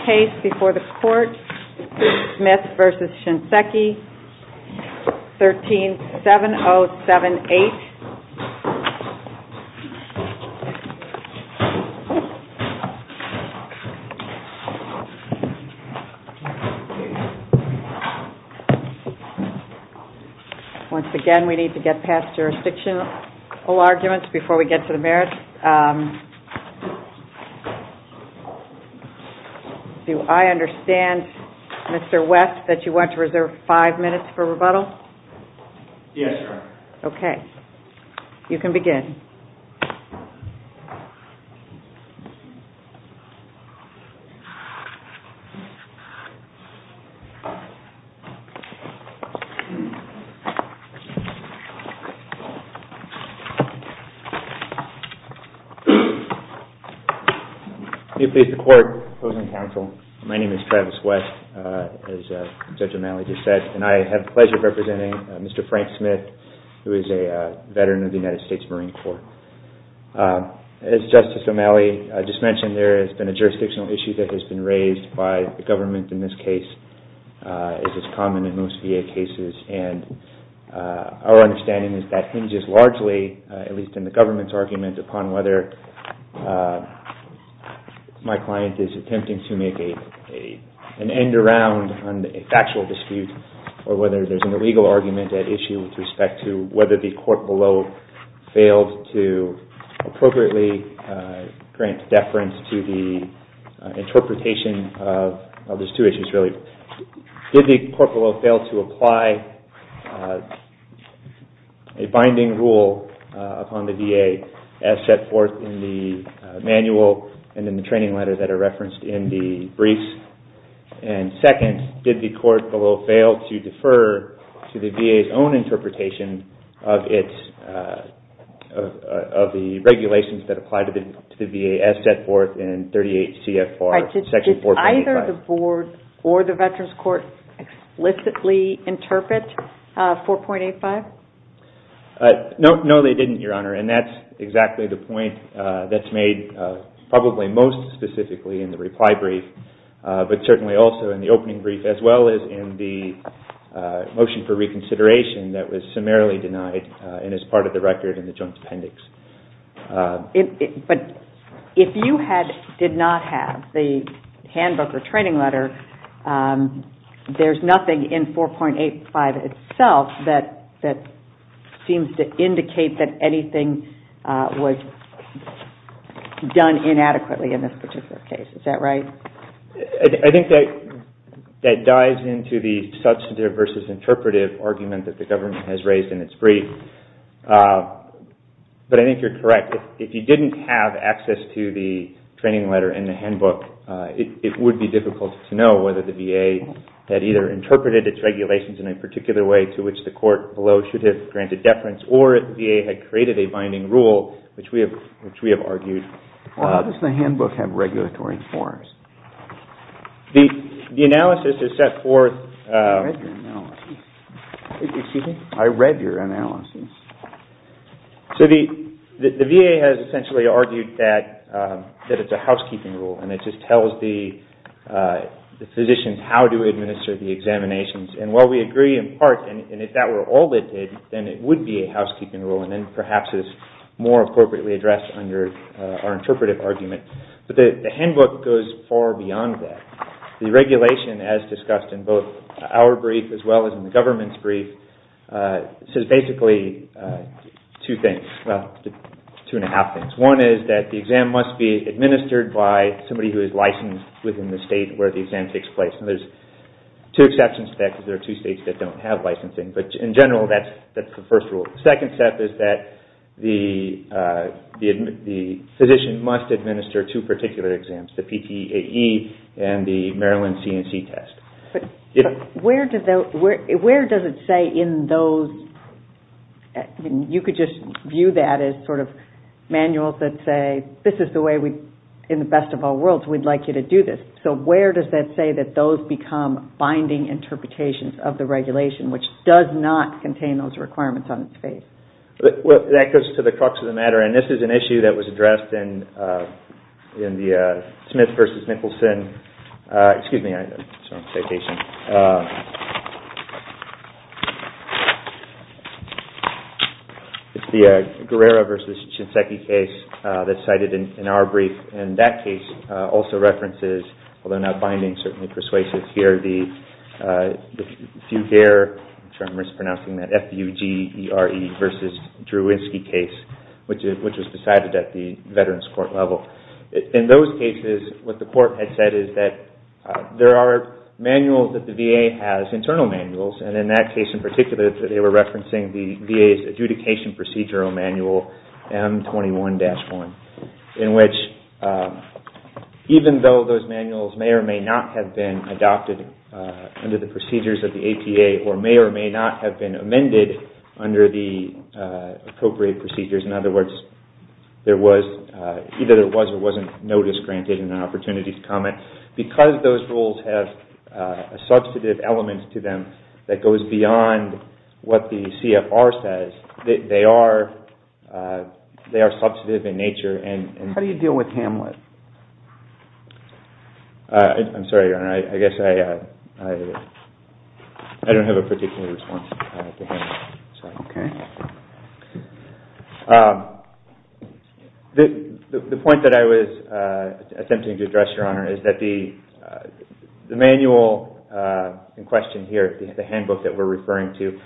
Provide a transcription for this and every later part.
137078. Once again, we need to get past jurisdictional arguments before we get to the merits. Do I understand, Mr. West, that you want to reserve five minutes for rebuttal? Yes, ma'am. May it please the Court, opposing counsel, my name is Travis West, as Judge O'Malley just said, and I have the pleasure of representing Mr. Frank Smith, who is a veteran of the United States Marine Corps. As Justice O'Malley just mentioned, there has been a jurisdictional issue that has been raised by the government in this case, as is common in most VA cases, and our understanding is that hinges largely, at least in the government's argument, upon whether my client is attempting to make an end-around on a factual dispute, or whether there's an illegal argument at issue with respect to whether the court below failed to appropriately grant deference to the interpretation of those two issues, really. First, did the court below fail to apply a binding rule upon the VA as set forth in the manual and in the training letter that are referenced in the briefs? And second, did the court below fail to defer to the VA's own interpretation of the regulations that apply to the VA as set forth in 38 CFR section 4.85? Did either the board or the Veterans Court explicitly interpret 4.85? No, they didn't, Your Honor, and that's exactly the point that's made probably most specifically in the reply brief, but certainly also in the opening brief, as well as in the motion for reconsideration that was summarily denied and is part of the record in the Jones Appendix. But if you did not have the handbook or training letter, there's nothing in 4.85 itself that seems to indicate that anything was done inadequately in this particular case. Is that right? I think that dives into the substantive versus interpretive argument that the government has raised in its brief, but I think you're correct. If you didn't have access to the training letter and the handbook, it would be difficult to know whether the VA had either interpreted its regulations in a particular way to which the court below should have granted deference or if the VA had created a binding rule, which we have argued. Well, how does the handbook have regulatory forms? The analysis is set forth... I read your analysis. Excuse me? I read your analysis. So the VA has essentially argued that it's a housekeeping rule and it just tells the physicians how to administer the examinations. And while we agree in part, and if that were all it did, then it would be a housekeeping rule and then perhaps is more appropriately addressed under our interpretive argument. But the handbook goes far beyond that. The regulation, as discussed in both our brief as well as in the government's brief, says basically two things. Well, two and a half things. One is that the exam must be administered by somebody who is licensed within the state where the exam takes place. And there's two exceptions to that because there are two states that don't have licensing. But in general, that's the first rule. The second step is that the physician must administer two particular exams, the PTAE and the Maryland CNC test. But where does it say in those... I mean, you could just view that as sort of manuals that say this is the way we, in the best of all worlds, we'd like you to do this. So where does that say that those become binding interpretations of the regulation, which does not contain those requirements on its face? Well, that goes to the crux of the matter. And this is an issue that was addressed in the Smith v. Nicholson... Excuse me. It's the Guerrero v. Shinseki case that's cited in our brief. And that case also references, although not binding, certainly persuasive here, the Fugere, which I'm mispronouncing, that F-U-G-E-R-E v. Drewinsky case, which was decided at the Veterans Court level. In those cases, what the court had said is that there are manuals that the VA has, internal manuals. And in that case in particular, they were referencing the VA's adjudication procedural manual M21-1, in which even though those manuals may or may not have been adopted under the procedures of the APA or may or may not have been amended under the appropriate procedures, in other words, either there was or wasn't notice granted and an opportunity to comment, because those rules have a substantive element to them that goes beyond what the CFR says, they are substantive in nature. How do you deal with Hamlet? I'm sorry, Your Honor. I guess I don't have a particular response to Hamlet. Okay. The point that I was attempting to address, Your Honor, is that the manual in question here, the handbook that we're referring to,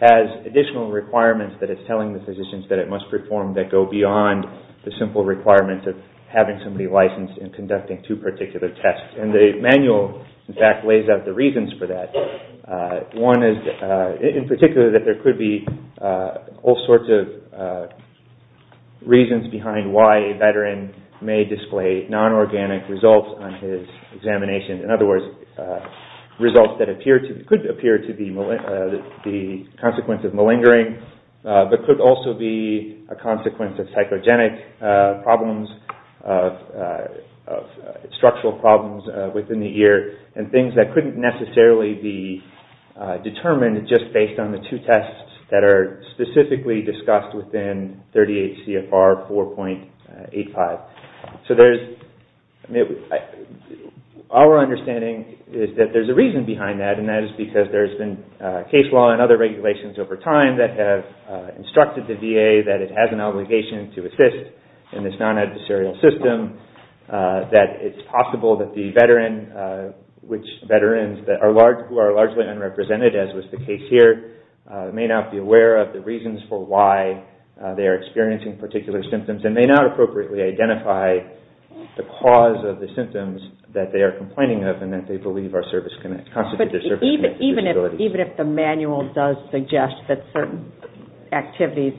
has additional requirements that it's telling the physicians that it must perform that go beyond the simple requirements of having somebody licensed and conducting two particular tests. And the manual, in fact, lays out the reasons for that. One is in particular that there could be all sorts of reasons behind why a veteran may display non-organic results on his examination. In other words, results that could appear to be the consequence of malingering, but could also be a consequence of psychogenic problems, structural problems within the ear, and things that couldn't necessarily be determined just based on the two tests that are specifically discussed within 38 CFR 4.85. So our understanding is that there's a reason behind that, and that is because there's been case law and other regulations over time that have instructed the VA that it has an obligation to assist in this non-adversarial system, that it's possible that the veteran, which veterans who are largely unrepresented, as was the case here, may not be aware of the reasons for why they are experiencing particular symptoms and may not appropriately identify the cause of the symptoms that they are complaining of and that they believe constitute their service-connected disabilities. But even if the manual does suggest that certain activities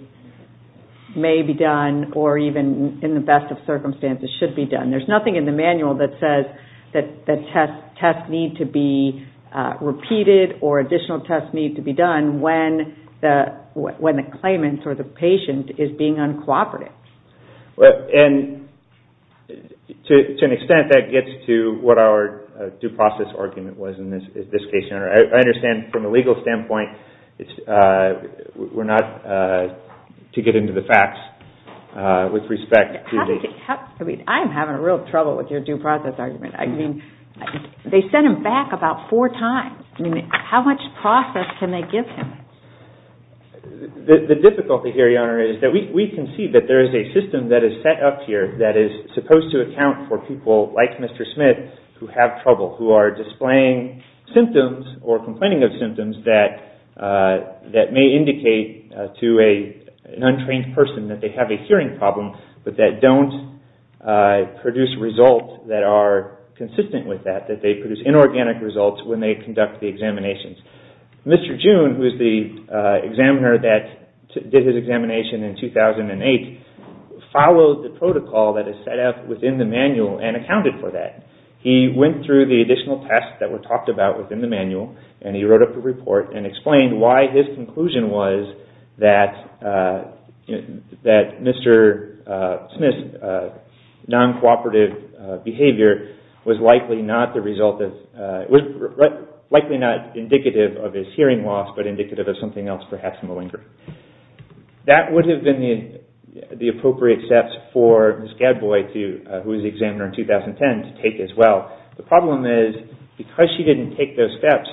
may be done or even in the best of circumstances should be done, there's nothing in the manual that says that tests need to be repeated or additional tests need to be done when the claimant or the patient is being uncooperative. And to an extent, that gets to what our due process argument was in this case. I understand from a legal standpoint, we're not to get into the facts with respect to the... I mean, I'm having a real trouble with your due process argument. They sent him back about four times. I mean, how much process can they give him? The difficulty here, Your Honor, is that we can see that there is a system that is set up here that is supposed to account for people like Mr. Smith who have trouble, who are displaying symptoms or complaining of symptoms that may indicate to an untrained person that they have a hearing problem but that don't produce results that are consistent with that, that they produce inorganic results when they conduct the examinations. Mr. June, who is the examiner that did his examination in 2008, followed the protocol that is set up within the manual and accounted for that. He went through the additional tests that were talked about within the manual and he wrote up a report and explained why his conclusion was that Mr. Smith's non-cooperative behavior was likely not indicative of his hearing loss but indicative of something else, perhaps malingering. That would have been the appropriate steps for Ms. Gadboy, who was the examiner in 2010, to take as well. The problem is, because she didn't take those steps,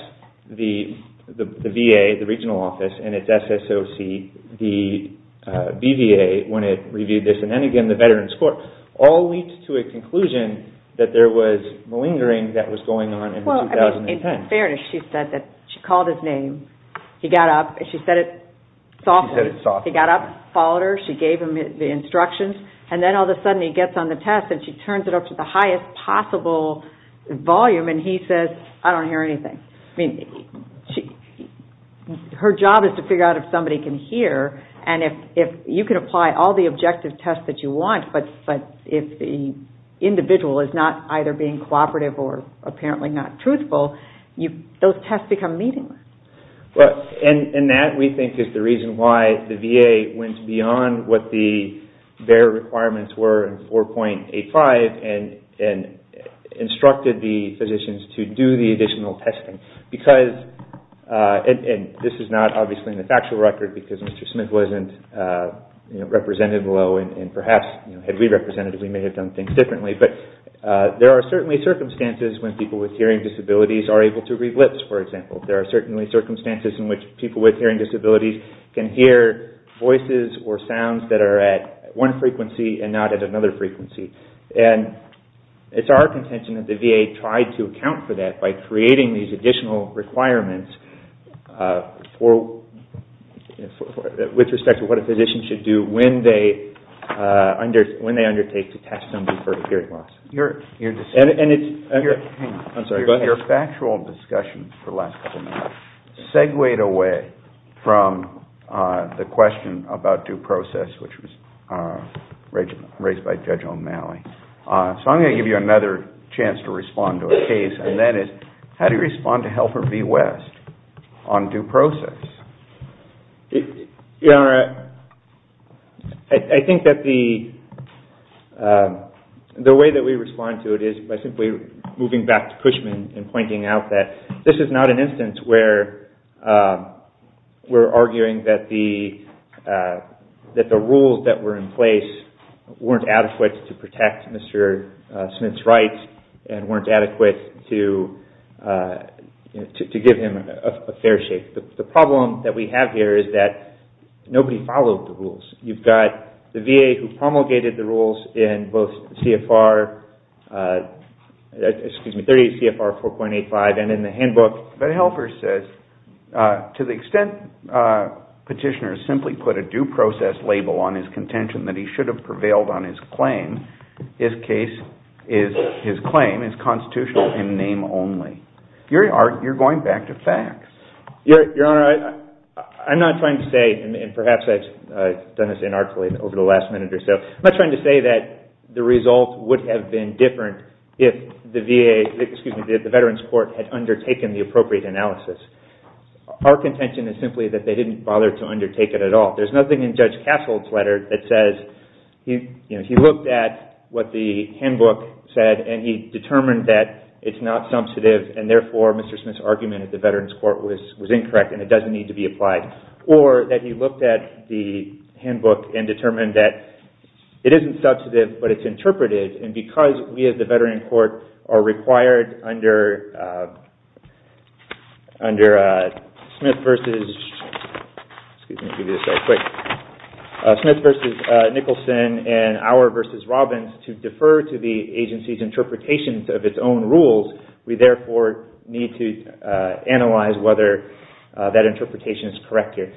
the VA, the regional office, and its SSOC, the BVA, when it reviewed this, and then again the Veterans Court, all leads to a conclusion that there was malingering that was going on in 2010. In fairness, she said that she called his name. He got up and she said it softly. She said it softly. He got up, followed her, she gave him the instructions, and then all of a sudden he gets on the test and she turns it up to the highest possible volume and he says, I don't hear anything. Her job is to figure out if somebody can hear and if you can apply all the objective tests that you want but if the individual is not either being cooperative or apparently not truthful, those tests become meaningless. And that, we think, is the reason why the VA went beyond what their requirements were in 4.85 and instructed the physicians to do the additional testing because, and this is not obviously in the factual record because Mr. Smith wasn't represented well and perhaps had we represented, we may have done things differently, but there are certainly circumstances when people with hearing disabilities are able to read lips, for example. There are certainly circumstances in which people with hearing disabilities can hear voices or sounds that are at one frequency and not at another frequency. And it's our contention that the VA tried to account for that by creating these additional requirements with respect to what a physician should do when they undertake to test somebody for a hearing loss. Your factual discussion for the last couple of minutes segued away from the question about due process, which was raised by Judge O'Malley. So I'm going to give you another chance to respond to a case and that is, how do you respond to Helper v. West on due process? Your Honor, I think that the way that we respond to it is by simply moving back to Cushman and pointing out that this is not an instance where we're arguing that the rules that were in place weren't adequate to protect Mr. Smith's rights and weren't adequate to give him a fair shake. The problem that we have here is that nobody followed the rules. You've got the VA who promulgated the rules in both CFR 4.85 and in the handbook. But Helper says, to the extent petitioners simply put a due process label on his contention that he should have prevailed on his claim, his claim is constitutional in name only. Your Honor, you're going back to facts. Your Honor, I'm not trying to say, and perhaps I've done this inarticulate over the last minute or so, I'm not trying to say that the result would have been different if the VA, excuse me, if the Veterans Court had undertaken the appropriate analysis. Our contention is simply that they didn't bother to undertake it at all. There's nothing in Judge Castle's letter that says, you know, he looked at what the handbook said and he determined that it's not substantive and therefore Mr. Smith's argument at the Veterans Court was incorrect and it doesn't need to be applied. Or that he looked at the handbook and determined that it isn't substantive but it's interpreted and because we at the Veterans Court are required under Smith v. Nicholson and Auer v. Robbins to defer to the agency's interpretations of its own rules, we therefore need to analyze whether that interpretation is correct here.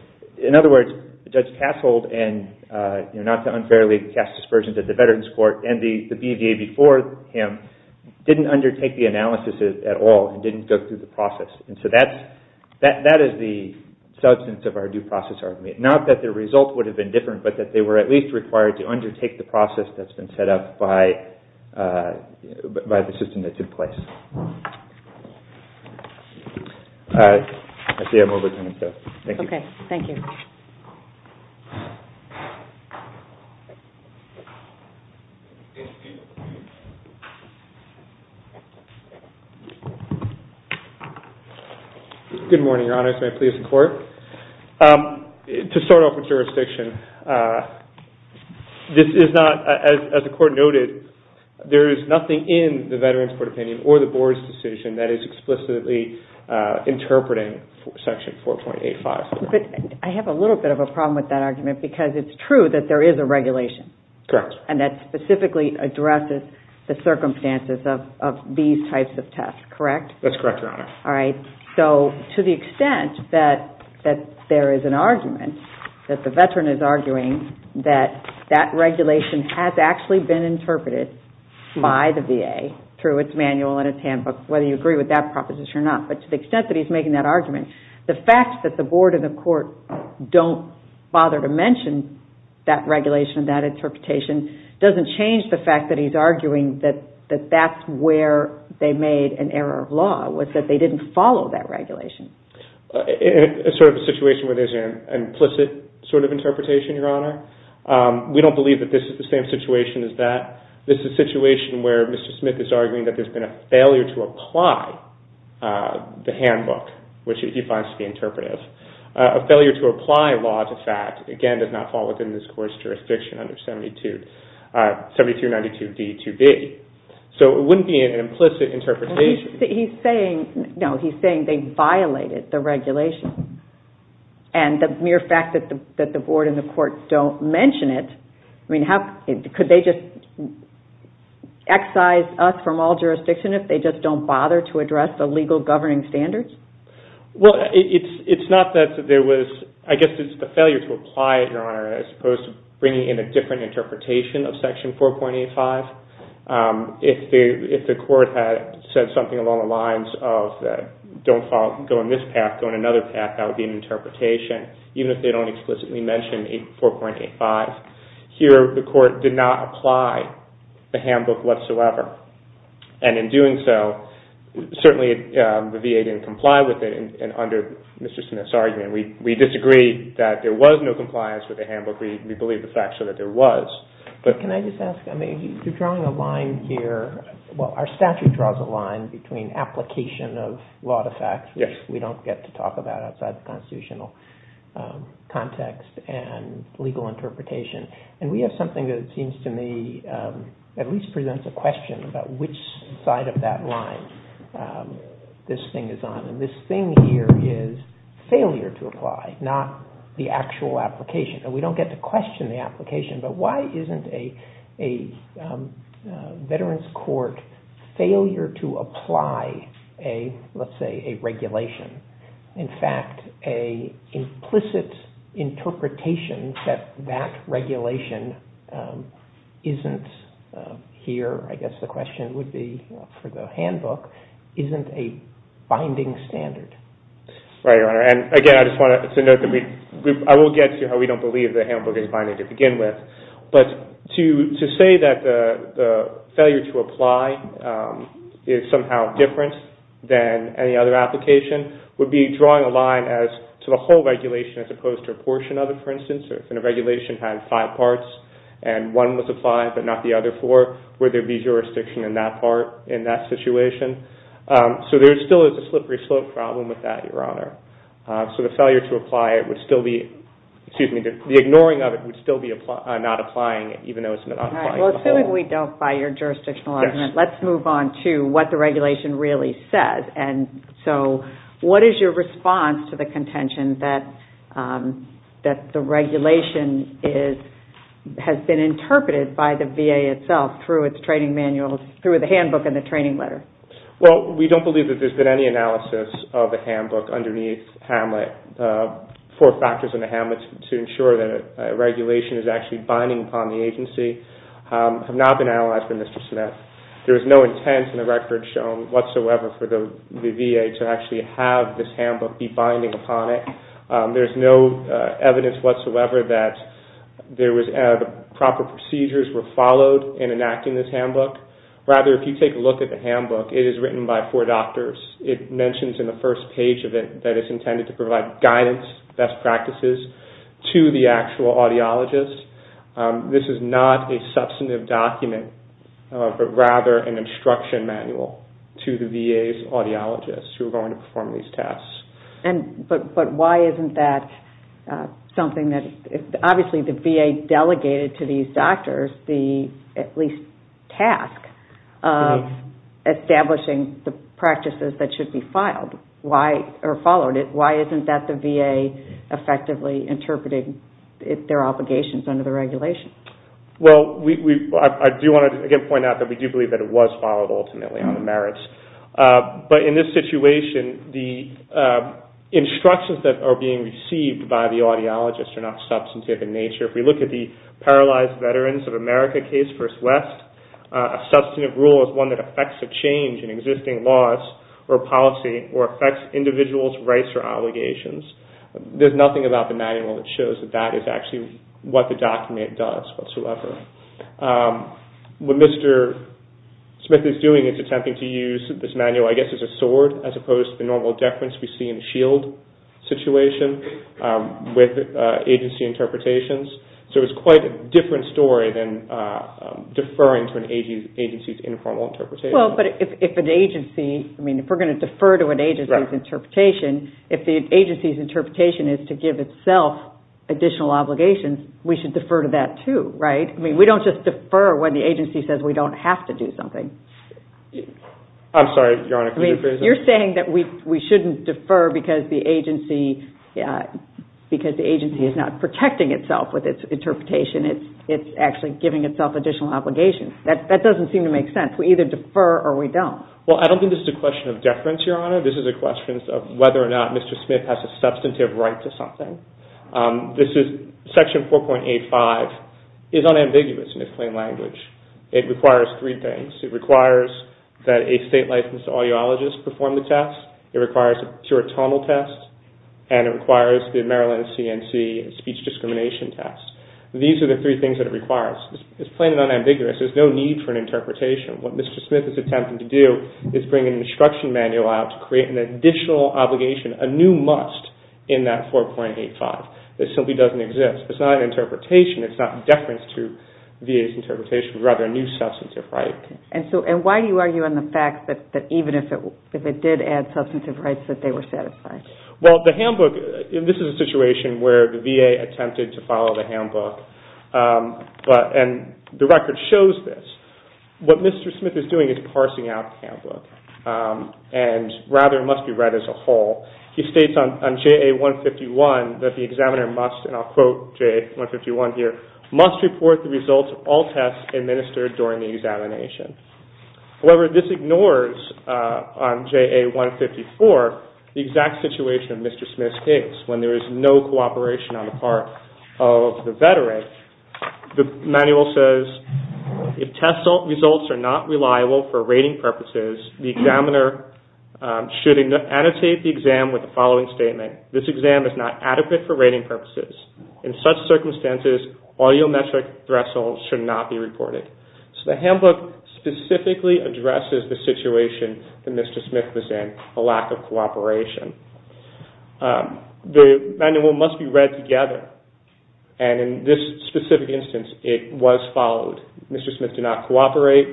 In other words, Judge Castle and, not to unfairly cast aspersions at the Veterans Court and the VA before him didn't undertake the analysis at all and didn't go through the process. And so that is the substance of our due process argument. Not that the result would have been different but that they were at least required to undertake the process that's been set up by the system that took place. I see I'm over time so thank you. Okay. Thank you. Good morning, Your Honor. To start off with jurisdiction, this is not, as the Court noted, there is nothing in the Veterans Court opinion or the Board's decision that is explicitly interpreting Section 4.85. But I have a little bit of a problem with that argument because it's true that there is a regulation. Correct. And that specifically addresses the circumstances of these types of tests, correct? That's correct, Your Honor. All right. So to the extent that there is an argument that the Veteran is arguing that that regulation has actually been interpreted by the VA through its manual and its handbook, whether you agree with that proposition or not. But to the extent that he's making that argument, the fact that the Board and the Court don't bother to mention that regulation, that interpretation, doesn't change the fact that he's arguing that that's where they made an error of law was that they didn't follow that regulation. It's sort of a situation where there's an implicit sort of interpretation, Your Honor. We don't believe that this is the same situation as that. This is a situation where Mr. Smith is arguing that there's been a failure to apply the handbook, which he finds to be interpretive. A failure to apply law to fact, again, does not fall within this Court's jurisdiction under 7292d-2b. So it wouldn't be an implicit interpretation. He's saying they violated the regulation. And the mere fact that the Board and the Court don't mention it, I mean, could they just excise us from all jurisdiction if they just don't bother to address the legal governing standards? Well, it's not that there was, I guess it's the failure to apply it, Your Honor, as opposed to bringing in a different interpretation of Section 4.85. If the Court had said something along the lines of, don't go in this path, go in another path, that would be an interpretation, even if they don't explicitly mention 4.85. Here, the Court did not apply the handbook whatsoever. And in doing so, certainly the VA didn't comply with it. And under Mr. Smith's argument, we disagree that there was no compliance with the handbook. We believe the facts show that there was. But can I just ask, I mean, you're drawing a line here. Well, our statute draws a line between application of law to facts, which we don't get to talk about outside the constitutional context, and legal interpretation. And we have something that seems to me at least presents a question about which side of that line this thing is on. And this thing here is failure to apply, not the actual application. We don't get to question the application, but why isn't a Veterans Court failure to apply, let's say, a regulation? In fact, an implicit interpretation that that regulation isn't here, I guess the question would be for the handbook, isn't a binding standard. Right, Your Honor. I will get to how we don't believe the handbook is binding to begin with. But to say that the failure to apply is somehow different than any other application would be drawing a line to the whole regulation as opposed to a portion of it, for instance. If a regulation had five parts and one was applied but not the other four, would there be jurisdiction in that situation? So the failure to apply it would still be, excuse me, the ignoring of it would still be not applying even though it's not applying to the whole. Well, assuming we don't buy your jurisdictional argument, let's move on to what the regulation really says. And so what is your response to the contention that the regulation has been interpreted by the VA itself through its training manuals, through the handbook and the training letter? Well, we don't believe that there's been any analysis of the handbook underneath HAMLET. Four factors in the HAMLET to ensure that a regulation is actually binding upon the agency have not been analyzed by Mr. Smith. There is no intent in the record shown whatsoever for the VA to actually have this handbook be binding upon it. There's no evidence whatsoever that proper procedures were followed in enacting this handbook. Rather, if you take a look at the handbook, it is written by four doctors. It mentions in the first page of it that it's intended to provide guidance, best practices, to the actual audiologist. This is not a substantive document but rather an instruction manual to the VA's audiologists who are going to perform these tasks. But why isn't that something that, obviously the VA delegated to these doctors the at least task of establishing the practices that should be followed. Why isn't that the VA effectively interpreting their obligations under the regulation? Well, I do want to again point out that we do believe that it was followed ultimately on the merits. But in this situation, the instructions that are being received by the audiologist are not substantive in nature. If we look at the Paralyzed Veterans of America case, First West, a substantive rule is one that affects a change in existing laws or policy or affects individuals' rights or obligations. There's nothing about the manual that shows that that is actually what the document does whatsoever. What Mr. Smith is doing is attempting to use this manual, I guess, as a sword as opposed to the normal deference we see in the SHIELD situation with agency interpretations. So it's quite a different story than deferring to an agency's informal interpretation. Well, but if an agency, I mean, if we're going to defer to an agency's interpretation, if the agency's interpretation is to give itself additional obligations, we should defer to that too, right? I mean, we don't just defer when the agency says we don't have to do something. I'm sorry, Your Honor, could you please? You're saying that we shouldn't defer because the agency is not protecting itself with its interpretation. It's actually giving itself additional obligations. That doesn't seem to make sense. We either defer or we don't. Well, I don't think this is a question of deference, Your Honor. This is a question of whether or not Mr. Smith has a substantive right to something. Section 4.85 is unambiguous in its plain language. It requires three things. It requires that a state-licensed audiologist perform the test. It requires a pure tonal test, and it requires the Maryland C&C speech discrimination test. These are the three things that it requires. It's plain and unambiguous. There's no need for an interpretation. What Mr. Smith is attempting to do is bring an instruction manual out to create an additional obligation, a new must in that 4.85 that simply doesn't exist. It's not an interpretation. It's not deference to VA's interpretation. It's rather a new substantive right. And why do you argue on the fact that even if it did add substantive rights that they were satisfied? Well, the handbook, this is a situation where the VA attempted to follow the handbook, and the record shows this. What Mr. Smith is doing is parsing out the handbook, and rather it must be read as a whole. He states on JA 151 that the examiner must, and I'll quote JA 151 here, must report the results of all tests administered during the examination. However, this ignores on JA 154 the exact situation of Mr. Smith's case when there is no cooperation on the part of the veteran. The manual says, if test results are not reliable for rating purposes, the examiner should annotate the exam with the following statement. This exam is not adequate for rating purposes. In such circumstances, audiometric thresholds should not be reported. So the handbook specifically addresses the situation that Mr. Smith was in, a lack of cooperation. The manual must be read together, and in this specific instance, it was followed. Mr. Smith did not cooperate.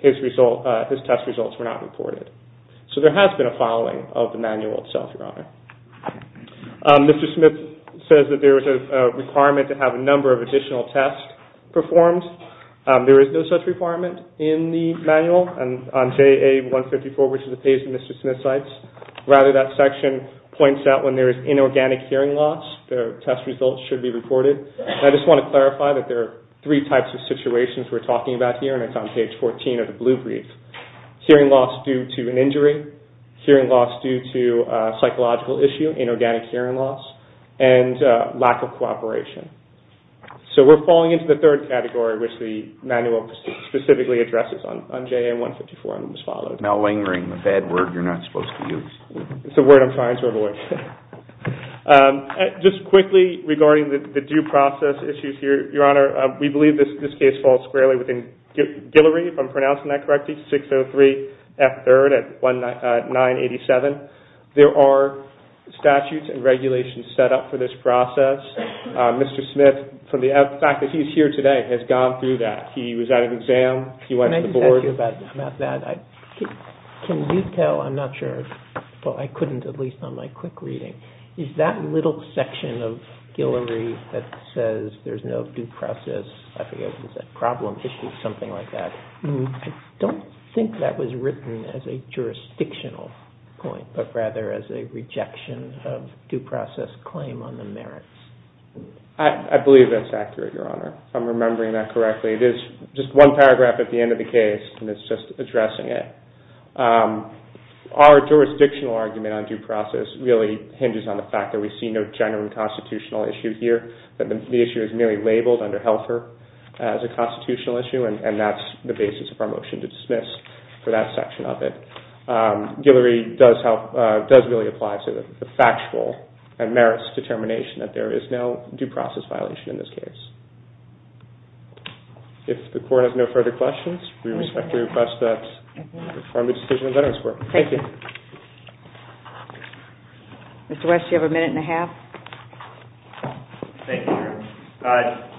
His test results were not reported. So there has been a following of the manual itself, Your Honor. Mr. Smith says that there is a requirement to have a number of additional tests performed. There is no such requirement in the manual on JA 154, which is the page that Mr. Smith cites. Rather, that section points out when there is inorganic hearing loss, the test results should be reported. I just want to clarify that there are three types of situations we're talking about here, and it's on page 14 of the blue brief. Hearing loss due to an injury, hearing loss due to a psychological issue, inorganic hearing loss, and lack of cooperation. So we're falling into the third category, which the manual specifically addresses on JA 154, and it was followed. But malingering, a bad word you're not supposed to use. It's a word I'm trying to avoid. Just quickly regarding the due process issues here, Your Honor, we believe this case falls squarely within Guillory, if I'm pronouncing that correctly, 603 F. 3rd at 987. There are statutes and regulations set up for this process. Mr. Smith, from the fact that he's here today, has gone through that. He was at an exam. He went to the board. Can I just ask you about that? Can you tell, I'm not sure, I couldn't at least on my quick reading, is that little section of Guillory that says there's no due process, I forget what it was, problem issue, something like that, I don't think that was written as a jurisdictional point, but rather as a rejection of due process claim on the merits. I believe that's accurate, Your Honor. I'm remembering that correctly. There's just one paragraph at the end of the case, and it's just addressing it. Our jurisdictional argument on due process really hinges on the fact that we see no genuine constitutional issue here, that the issue is merely labeled under Helfer as a constitutional issue, and that's the basis of our motion to dismiss for that section of it. Guillory does really apply to the factual and merits determination that there is no due process violation in this case. If the Court has no further questions, we respectfully request that we confirm the decision of Veterans Court. Thank you. Mr. West, do you have a minute and a half? Thank you, Your Honor.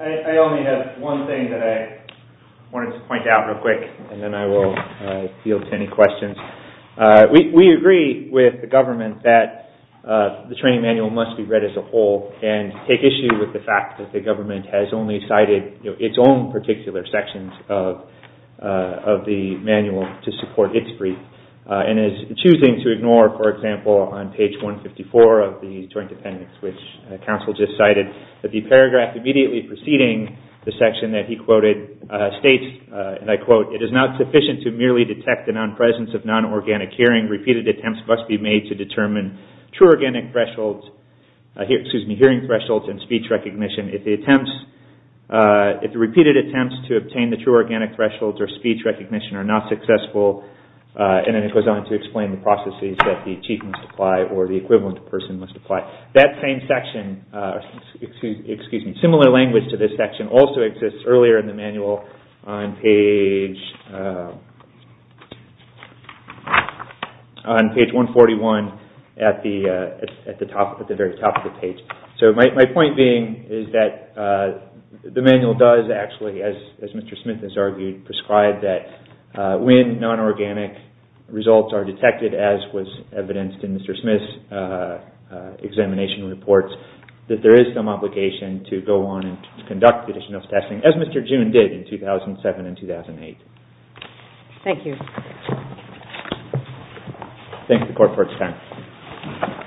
I only have one thing that I wanted to point out real quick, and then I will yield to any questions. We agree with the government that the training manual must be read as a whole and take issue with the fact that the government has only cited its own particular sections of the manual to support its brief and is choosing to ignore, for example, on page 154 of the Joint Appendix, which counsel just cited that the paragraph immediately preceding the section that he quoted states, and I quote, it is not sufficient to merely detect the non-presence of non-organic hearing. Repeated attempts must be made to determine true organic thresholds, excuse me, hearing thresholds and speech recognition. If the repeated attempts to obtain the true organic thresholds or speech recognition are not successful, and then it goes on to explain the processes that the chief must apply or the equivalent person must apply. That same section, excuse me, similar language to this section also exists earlier in the manual on page 141 at the very top of the page. So my point being is that the manual does actually, as Mr. Smith has argued, prescribe that when non-organic results are detected, as was evidenced in Mr. Smith's examination reports, that there is some obligation to go on and conduct additional testing, as Mr. June did in 2007 and 2008. Thank you. Thank the court for its time.